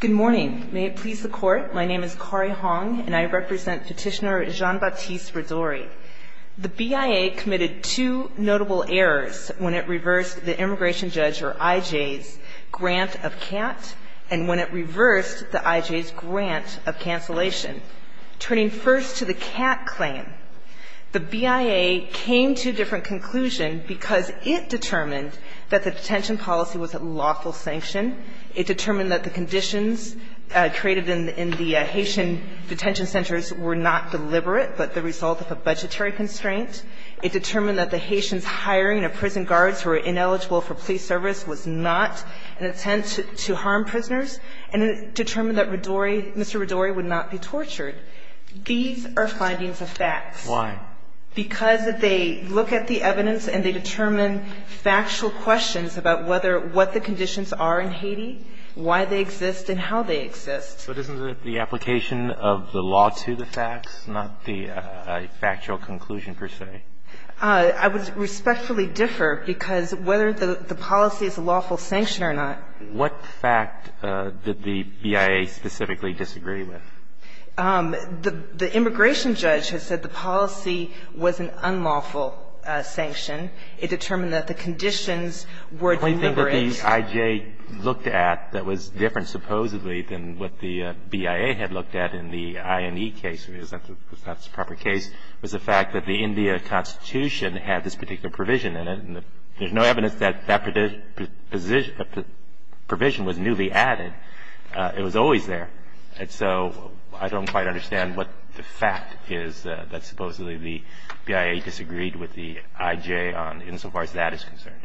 Good morning. May it please the court, my name is Kari Hong, and I represent petitioner Jean-Baptiste Ridore. The BIA committed two notable errors when it reversed the immigration judge or IJ's grant of CAT and when it reversed the IJ's grant of cancellation. Turning first to the CAT claim, the BIA came to a different conclusion because it determined that the detention policy was a lawful sanction. It determined that the conditions created in the Haitian detention centers were not deliberate, but the result of a budgetary constraint. It determined that the Haitians hiring of prison guards who were ineligible for police service was not an attempt to harm prisoners. And it determined that Ridore, Mr. Ridore, would not be tortured. These are findings of facts. Why? Because if they look at the evidence and they determine factual questions about whether what the conditions are in Haiti, why they exist and how they exist. But isn't it the application of the law to the facts, not the factual conclusion per se? I would respectfully differ because whether the policy is a lawful sanction or not. What fact did the BIA specifically disagree with? The immigration judge has said the policy was an unlawful sanction. It determined that the conditions were deliberate. The fact that the IJ looked at that was different, supposedly, than what the BIA had looked at in the INE case, if that's the proper case, was the fact that the India Constitution had this particular provision in it. There's no evidence that that provision was newly added. It was always there. So I don't quite understand what the fact is that, supposedly, the BIA disagreed with the IJ on, insofar as that is concerned.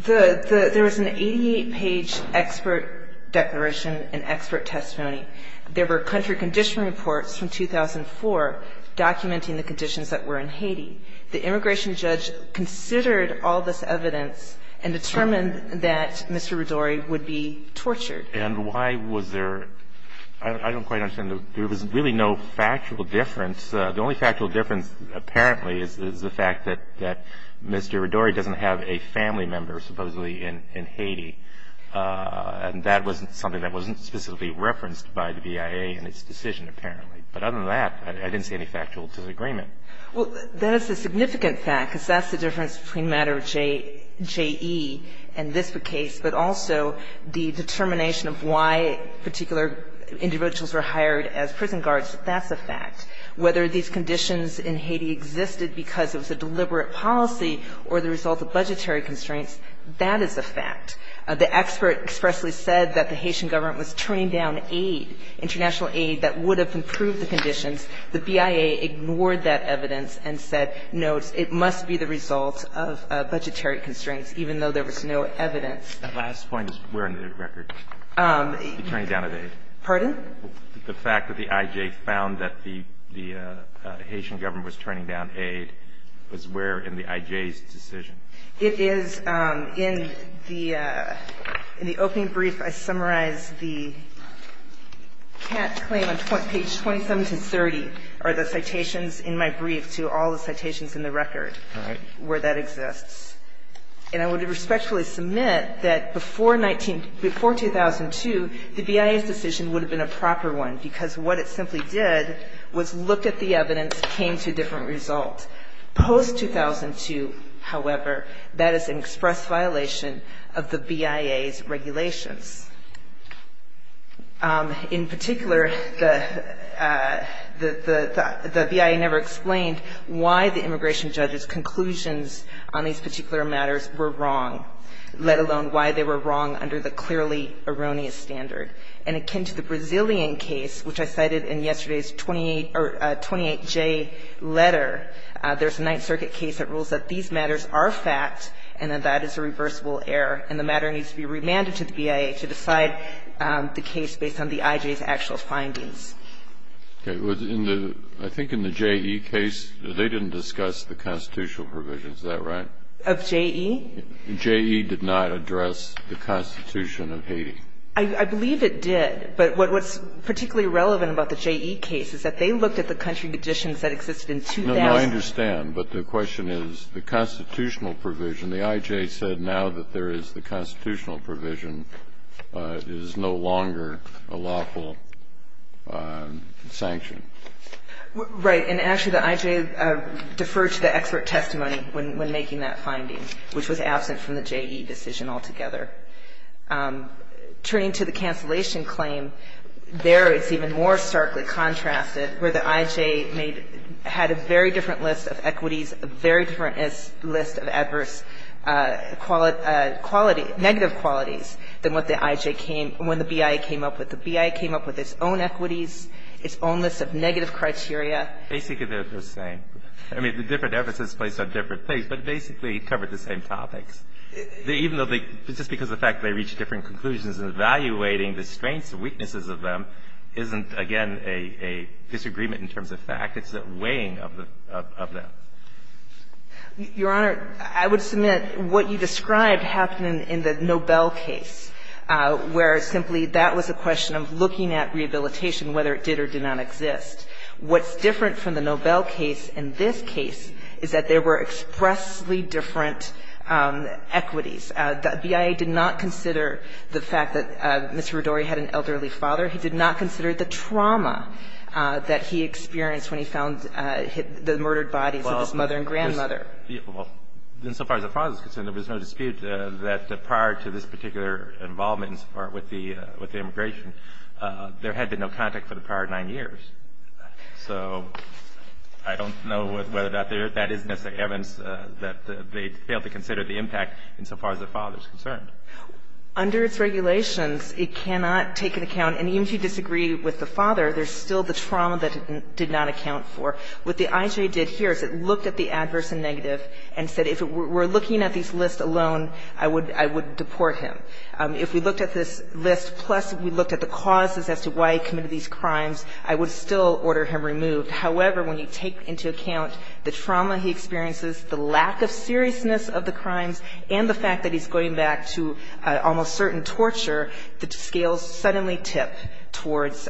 There was an 88-page expert declaration and expert testimony. There were country condition reports from 2004 documenting the conditions that were in Haiti. The immigration judge considered all this evidence and determined that Mr. Rodori would be tortured. And why was there – I don't quite understand. There was really no factual difference. The only factual difference, apparently, is the fact that Mr. Rodori doesn't have a family member, supposedly, in Haiti. And that wasn't something that wasn't specifically referenced by the BIA in its decision, apparently. But other than that, I didn't see any factual disagreement. Well, that is a significant fact, because that's the difference between Matter J.E. and this case, but also the determination of why particular individuals were hired as prison guards. That's a fact. Whether these conditions in Haiti existed because it was a deliberate policy or the result of budgetary constraints, that is a fact. The expert expressly said that the Haitian government was turning down aid, international aid that would have improved the conditions. The BIA ignored that evidence and said, no, it must be the result of budgetary constraints, even though there was no evidence. The last point is where in the record? Turning down of aid. Pardon? The fact that the IJ found that the Haitian government was turning down aid was where in the IJ's decision? It is in the opening brief I summarized the cat claim on page 27 to 30, or the citations in my brief to all the citations in the record, where that exists. And I would respectfully submit that before 19 — before 2002, the BIA's decision would have been a proper one, because what it simply did was look at the evidence, came to a different result. Post-2002, however, that is an express violation of the BIA's regulations. In particular, the BIA never explained why the immigration judges' conclusions on these particular matters were wrong, let alone why they were wrong under the clearly erroneous standard. And akin to the Brazilian case, which I cited in yesterday's 28 — or 28J letter, there's a Ninth Circuit case that rules that these matters are fact and that that is a reversible error, and the matter needs to be remanded to the BIA to decide the case based on the IJ's actual findings. Okay. In the — I think in the JE case, they didn't discuss the constitutional provisions, is that right? Of JE? JE did not address the Constitution of Haiti. I believe it did, but what's particularly relevant about the JE case is that they looked at the country conditions that existed in 2000. No, no, I understand, but the question is the constitutional provision. The IJ said now that there is the constitutional provision, it is no longer a lawful sanction. Right. And actually, the IJ deferred to the expert testimony when making that finding, which was absent from the JE decision altogether. Turning to the cancellation claim, there it's even more starkly contrasted, where the IJ made — had a very different list of equities, a very different list of adverse quality — negative qualities than what the IJ came — when the BIA came up with. The BIA came up with its own equities, its own list of negative criteria. Basically, they're the same. I mean, the different efforts that's placed on different things, but basically it covered the same topics. Even though they — just because of the fact they reached different conclusions and evaluating the strengths and weaknesses of them isn't, again, a disagreement in terms of fact. It's the weighing of the — of that. Your Honor, I would submit what you described happened in the Nobel case, where simply that was a question of looking at rehabilitation, whether it did or did not exist. What's different from the Nobel case and this case is that there were expressly different equities. The BIA did not consider the fact that Mr. Rodori had an elderly father. He did not consider the trauma that he experienced when he found the murdered bodies of his mother and grandmother. Well, insofar as the father's concerned, there was no dispute that prior to this particular involvement with the immigration, there had been no contact for the prior nine years. So I don't know whether that is necessarily evidence that they failed to consider the impact insofar as the father's concerned. Under its regulations, it cannot take into account — and even if you disagree with the father, there's still the trauma that it did not account for. What the IJA did here is it looked at the adverse and negative and said, if we're looking at these lists alone, I would — I would deport him. If we looked at this list, plus we looked at the causes as to why he committed these crimes, I would still order him removed. However, when you take into account the trauma he experiences, the lack of seriousness of the crimes, and the fact that he's going back to almost certain torture, the scales suddenly tip towards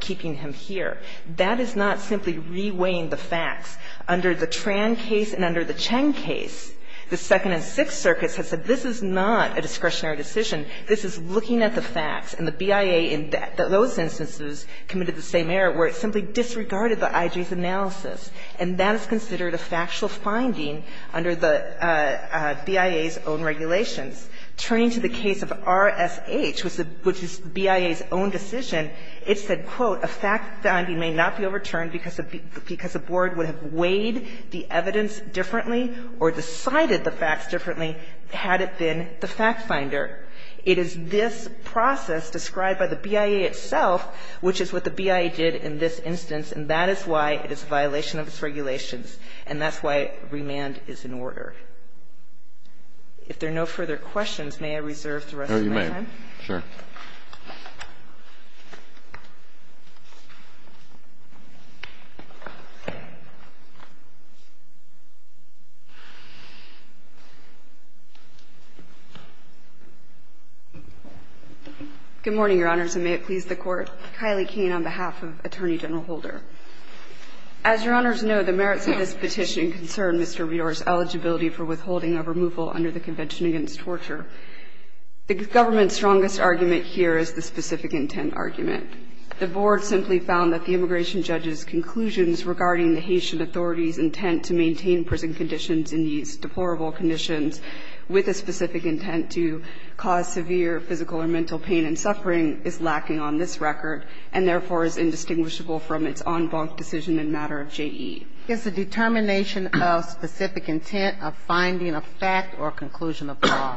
keeping him here. That is not simply reweighing the facts. Under the Tran case and under the Cheng case, the Second and Sixth Circuits have said this is not a discretionary decision. This is looking at the facts. And the BIA in those instances committed the same error where it simply disregarded the IJA's analysis. And that is considered a factual finding under the BIA's own regulations. Turning to the case of RSH, which is BIA's own decision, it said, quote, a fact finding may not be overturned because the board would have weighed the evidence differently or decided the facts differently had it been the fact finder. It is this process described by the BIA itself, which is what the BIA did in this instance, and that is why it is a violation of its regulations, and that's why remand is in order. If there are no further questions, may I reserve the rest of my time? Mr. Bioder. Sure. Good morning, Your Honors, and may it please the Court. Kylie Kane on behalf of Attorney General Holder. As Your Honors know, the merits of this petition concern Mr. Bioder's eligibility for withholding a removal under the Convention Against Torture. The government's strongest argument here is the specific intent argument. The board simply found that the immigration judge's conclusions regarding the Haitian authority's intent to maintain prison conditions in these deplorable conditions with a specific intent to cause severe physical or mental pain and suffering is lacking on this record and, therefore, is indistinguishable from its en banc decision in matter of JE. Is the determination of specific intent a finding of fact or conclusion of law?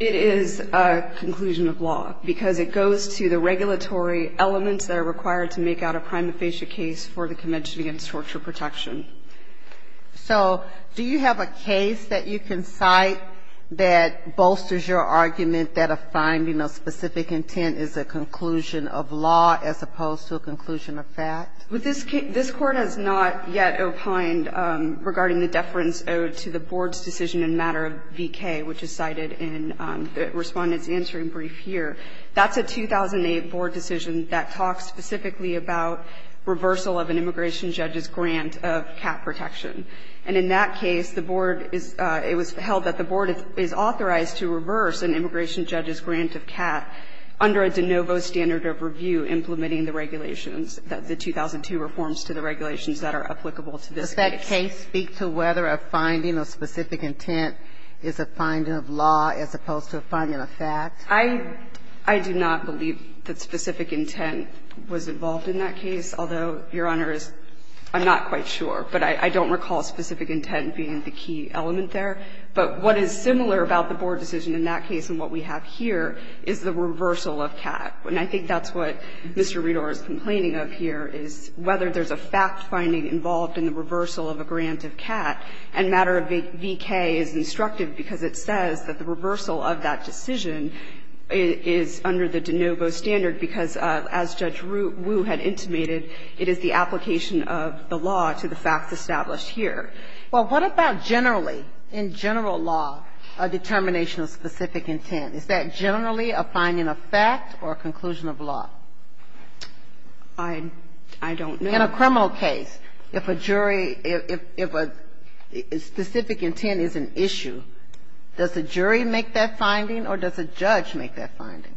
It is a conclusion of law, because it goes to the regulatory elements that are required to make out a prima facie case for the Convention Against Torture Protection. So do you have a case that you can cite that bolsters your argument that a finding of specific intent is a conclusion of law as opposed to a conclusion of fact? This Court has not yet opined regarding the deference owed to the board's decision in matter of V.K., which is cited in the Respondent's answering brief here. That's a 2008 board decision that talks specifically about reversal of an immigration judge's grant of CAT protection. And in that case, the board is – it was held that the board is authorized to reverse an immigration judge's grant of CAT under a de novo standard of review implementing the regulations, the 2002 reforms to the regulations that are applicable to this case. Do you have a case that speaks to whether a finding of specific intent is a finding of law as opposed to a finding of fact? I do not believe that specific intent was involved in that case, although, Your Honor, I'm not quite sure. But I don't recall specific intent being the key element there. But what is similar about the board decision in that case and what we have here is the reversal of CAT. And I think that's what Mr. Redor is complaining of here, is whether there's a fact finding involved in the reversal of a grant of CAT. And matter of V.K. is instructive because it says that the reversal of that decision is under the de novo standard because, as Judge Wu had intimated, it is the application of the law to the facts established here. Well, what about generally, in general law, a determination of specific intent? Is that generally a finding of fact or a conclusion of law? I don't know. In a criminal case, if a jury, if a specific intent is an issue, does the jury make that finding or does the judge make that finding?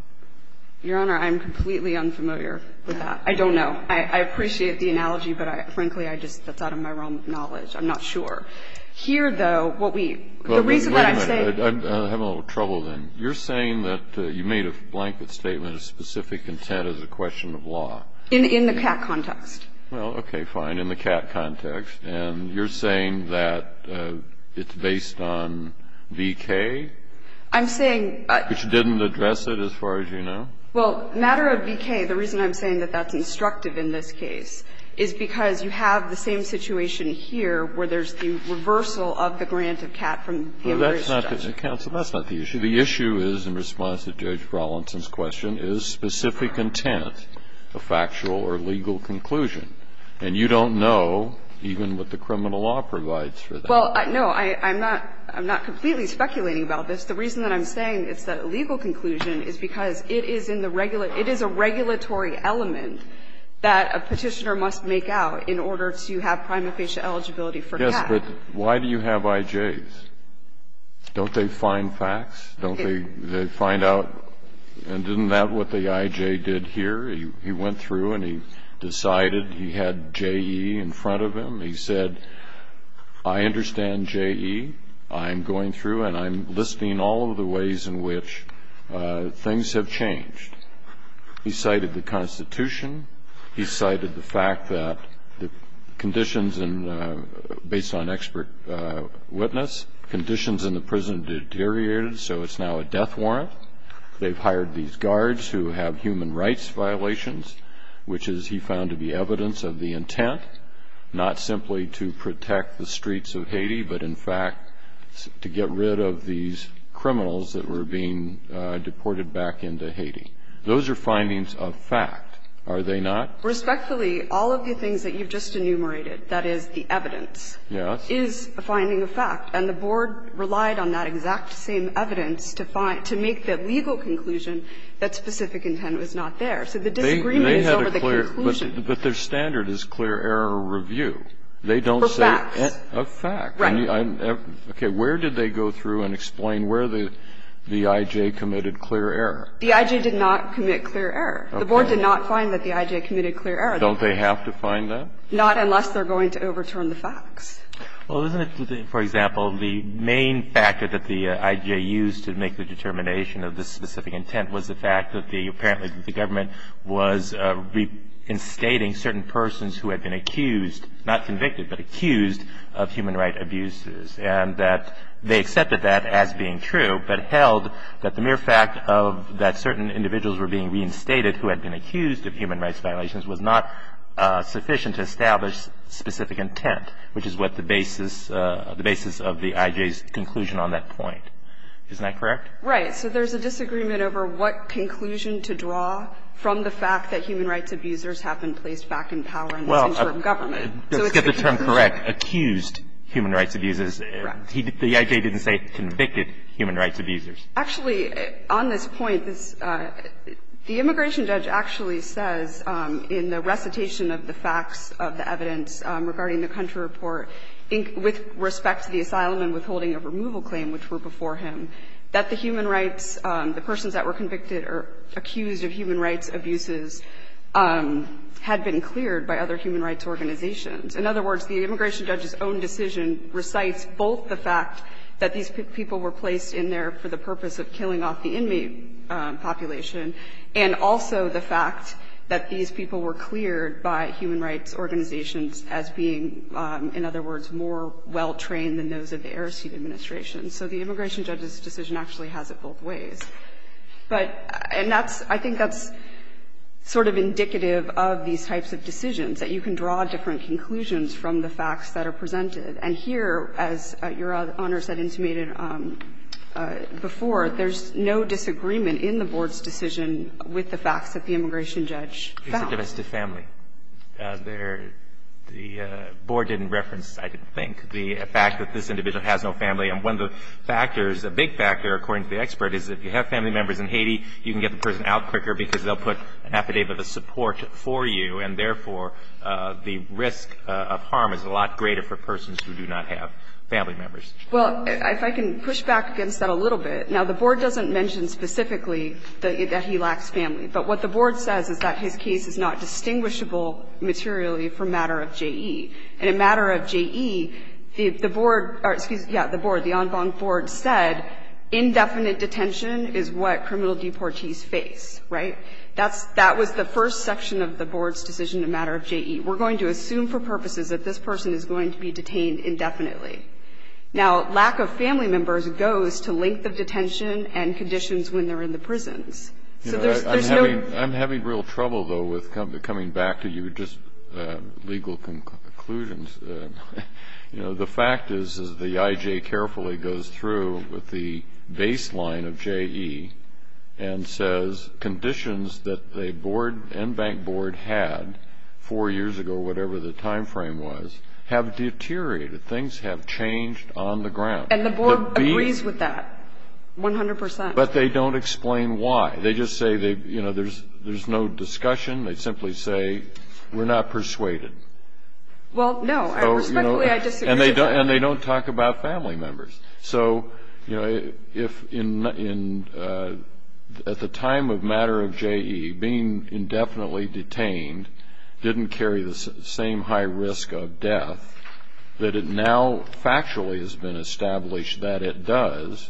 Your Honor, I'm completely unfamiliar with that. I don't know. I appreciate the analogy, but, frankly, I just thought of my own knowledge. I'm not sure. Here, though, what we the reason that I'm saying the reason that I'm saying I'm having a little trouble then. You're saying that you made a blanket statement of specific intent as a question of law. In the CAT context. Well, okay, fine, in the CAT context. And you're saying that it's based on V.K.? I'm saying Which didn't address it, as far as you know? Well, matter of V.K., the reason I'm saying that that's instructive in this case is because you have the same situation here where there's the reversal of the grant of CAT from the emergency judge. Counsel, that's not the issue. The issue is, in response to Judge Rawlinson's question, is specific intent a factual or legal conclusion? And you don't know even what the criminal law provides for that. Well, no, I'm not completely speculating about this. The reason that I'm saying it's a legal conclusion is because it is in the regular it is a regulatory element that a Petitioner must make out in order to have prima facie eligibility for CAT. Yes, but why do you have I.J.'s? Don't they find facts? Don't they find out? And isn't that what the I.J. did here? He went through and he decided he had J.E. in front of him. He said, I understand J.E. I'm going through and I'm listing all of the ways in which things have changed. He cited the Constitution. He cited the fact that the conditions based on expert witness, conditions in the prison deteriorated, so it's now a death warrant. They've hired these guards who have human rights violations, which is he found to be evidence of the intent, not simply to protect the streets of Haiti, but in fact, to get rid of these criminals that were being deported back into Haiti. Those are findings of fact, are they not? Respectfully, all of the things that you've just enumerated, that is the evidence, is a finding of fact, and the Board relied on that exact same evidence to make that legal conclusion that specific intent was not there. So the disagreement is over the conclusion. But their standard is clear error review. They don't say a fact. Right. Okay. Where did they go through and explain where the I.J. committed clear error? The I.J. did not commit clear error. The Board did not find that the I.J. committed clear error. Don't they have to find that? Not unless they're going to overturn the facts. Well, isn't it, for example, the main factor that the I.J. used to make the determination of this specific intent was the fact that apparently the government was reinstating certain persons who had been accused, not convicted, but accused of human rights abuses, and that they accepted that as being true, but held that the mere fact that certain individuals were being reinstated who had been accused of human rights violations was not sufficient to establish specific intent, which is what the basis of the I.J.'s conclusion on that point. Isn't that correct? Right. So there's a disagreement over what conclusion to draw from the fact that human rights abusers have been placed back in power in this interim government. Well, let's get the term correct, accused human rights abusers. Correct. The I.J. didn't say convicted human rights abusers. Actually, on this point, the immigration judge actually says in the recitation of the facts of the evidence regarding the country report, with respect to the asylum and withholding of removal claim, which were before him, that the human rights the persons that were convicted or accused of human rights abuses had been cleared by other human rights organizations. In other words, the immigration judge's own decision recites both the fact that these people were placed in there for the purpose of killing off the inmate population and also the fact that these people were cleared by human rights organizations as being, in other words, more well-trained than those of the Aristide administration. So the immigration judge's decision actually has it both ways. But and that's – I think that's sort of indicative of these types of decisions, that you can draw different conclusions from the facts that are presented. And here, as Your Honor said intimated before, there's no disagreement in the Board's decision with the facts that the immigration judge found. It's a domestic family. There – the Board didn't reference, I think, the fact that this individual has no family. And one of the factors, a big factor, according to the expert, is if you have family members in Haiti, you can get the person out quicker because they'll put an affidavit of support for you, and therefore, the risk of harm is a lot greater for persons who do not have family members. Well, if I can push back against that a little bit. Now, the Board doesn't mention specifically that he lacks family. But what the Board says is that his case is not distinguishable materially from matter of JE. And in matter of JE, the Board – or, excuse me, yeah, the Board, the en banc Board said indefinite detention is what criminal deportees face, right? That's – that was the first section of the Board's decision in matter of JE. We're going to assume for purposes that this person is going to be detained indefinitely. Now, lack of family members goes to length of detention and conditions when they're in the prisons. So there's no – I'm having real trouble, though, with coming back to your just legal conclusions. You know, the fact is, is the IJ carefully goes through with the baseline of JE and says conditions that the Board – en banc Board had four years ago, whatever the timeframe was, have deteriorated. Things have changed on the ground. And the Board agrees with that, 100 percent. But they don't explain why. They just say they – you know, there's no discussion. They simply say, we're not persuaded. Well, no. And respectfully, I disagree with that. And they don't talk about family members. So, you know, if in – at the time of matter of JE, being indefinitely detained didn't carry the same high risk of death that it now factually has been established that it does,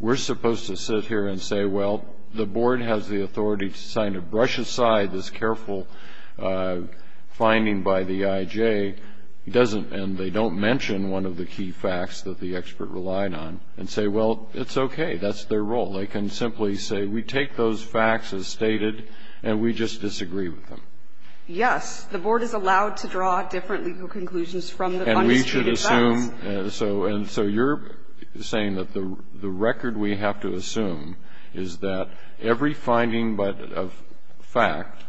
we're supposed to sit here and say, well, the Board has the authority to sign a brush aside this careful finding by the IJ. It doesn't – and they don't mention one of the key facts that the expert relied on and say, well, it's okay. That's their role. They can simply say, we take those facts as stated, and we just disagree with them. MS. GOTTLIEB Yes. The Board is allowed to draw different legal conclusions from the undisputed facts. MR. LOCKE And we should assume – and so you're saying that the record we have to assume is that every finding of fact,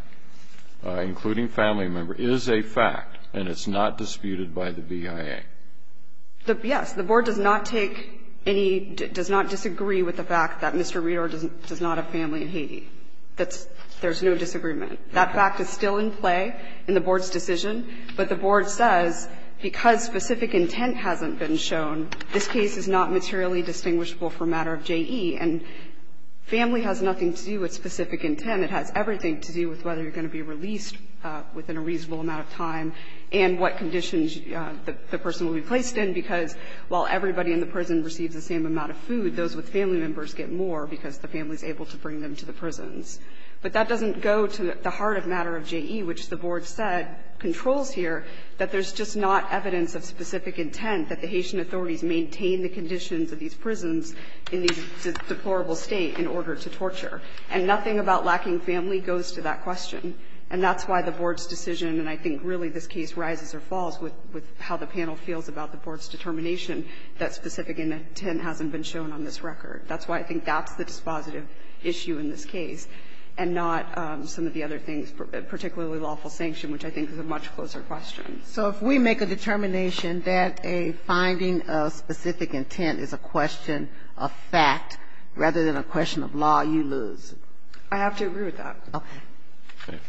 including family member, is a fact. And it's not disputed by the VIA. MS. GOTTLIEB Yes. The Board does not take any – does not disagree with the fact that Mr. Redor does not have family in Haiti. That's – there's no disagreement. That fact is still in play in the Board's decision. But the Board says, because specific intent hasn't been shown, this case is not materially distinguishable for matter of JE. And family has nothing to do with specific intent. It has everything to do with whether you're going to be released within a reasonable amount of time and what conditions the person will be placed in, because while everybody in the prison receives the same amount of food, those with family members get more because the family is able to bring them to the prisons. But that doesn't go to the heart of matter of JE, which the Board said controls here, that there's just not evidence of specific intent that the Haitian authorities maintain the conditions of these prisons in this deplorable state in order to torture. And nothing about lacking family goes to that question. And that's why the Board's decision, and I think really this case rises or falls with how the panel feels about the Board's determination, that specific intent hasn't been shown on this record. That's why I think that's the dispositive issue in this case, and not some of the other things, particularly lawful sanction, which I think is a much closer question. Ginsburg. So if we make a determination that a finding of specific intent is a question of fact rather than a question of law, you lose. I have to agree with that.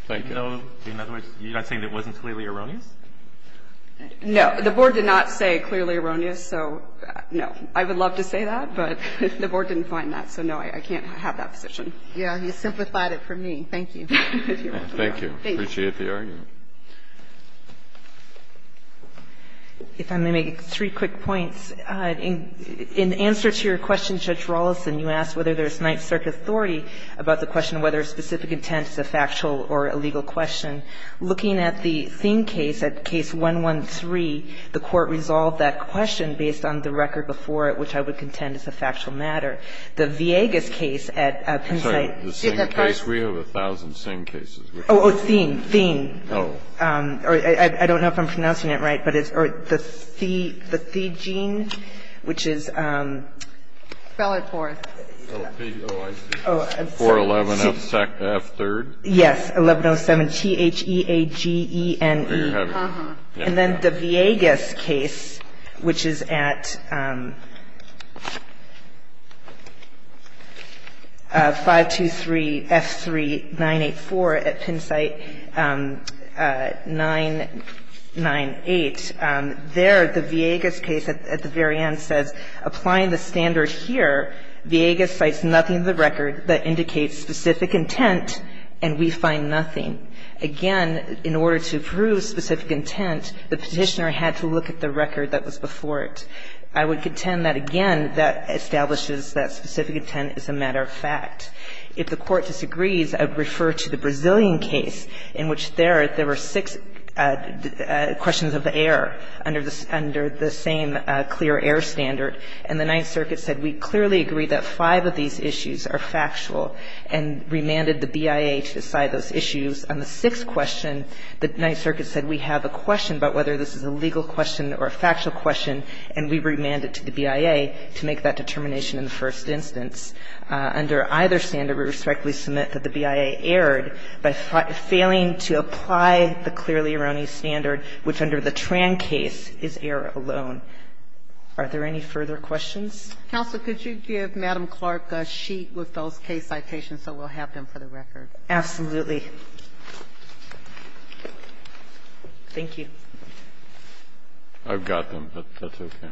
Thank you. In other words, you're not saying it wasn't clearly erroneous? No. The Board did not say clearly erroneous, so no. I would love to say that, but the Board didn't find that, so no, I can't have that position. Yeah. He simplified it for me. Thank you. Thank you. Appreciate the argument. If I may make three quick points. In answer to your question, Judge Rawlinson, you asked whether there's night-circuit authority about the question of whether specific intent is a factual or a legal question. Looking at the Thien case, at Case 113, the Court resolved that question based on the record before it, which I would contend is a factual matter. The Villegas case at Penn State. I'm sorry, the Thien case, we have 1,000 Thien cases. Oh, oh, Thien, Thien. Oh. I don't know if I'm pronouncing it right, but it's the Thie gene, which is. Spell it for us. L-P-O-I-C-H-E-411-F-3rd. Yes. 1107-T-H-E-A-G-E-N-E. And then the Villegas case, which is at 523-F-3-984 at Penn State 998, there the standard here, Villegas cites nothing in the record that indicates specific intent, and we find nothing. Again, in order to prove specific intent, the petitioner had to look at the record that was before it. I would contend that, again, that establishes that specific intent is a matter of fact. If the Court disagrees, I would refer to the Brazilian case in which there were six questions of the air under the same clear air standard. And the Ninth Circuit said, we clearly agree that five of these issues are factual and remanded the BIA to decide those issues. On the sixth question, the Ninth Circuit said, we have a question about whether this is a legal question or a factual question, and we remand it to the BIA to make that determination in the first instance. Under either standard, we respectfully submit that the BIA erred by failing to apply the clearly erroneous standard, which under the Tran case is error alone. Are there any further questions? Ginsburg-McCarran, counsel, could you give Madam Clark a sheet with those case citations so we'll have them for the record? Absolutely. Thank you. I've got them, but that's okay.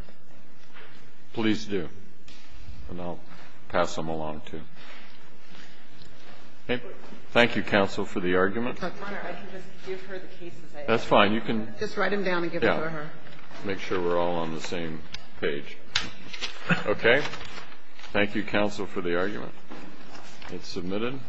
Please do, and I'll pass them along, too. Thank you, counsel, for the argument. I can just give her the cases I have. That's fine. You can just write them down and give them to her. Make sure we're all on the same page. Okay. Thank you, counsel, for the argument. It's submitted.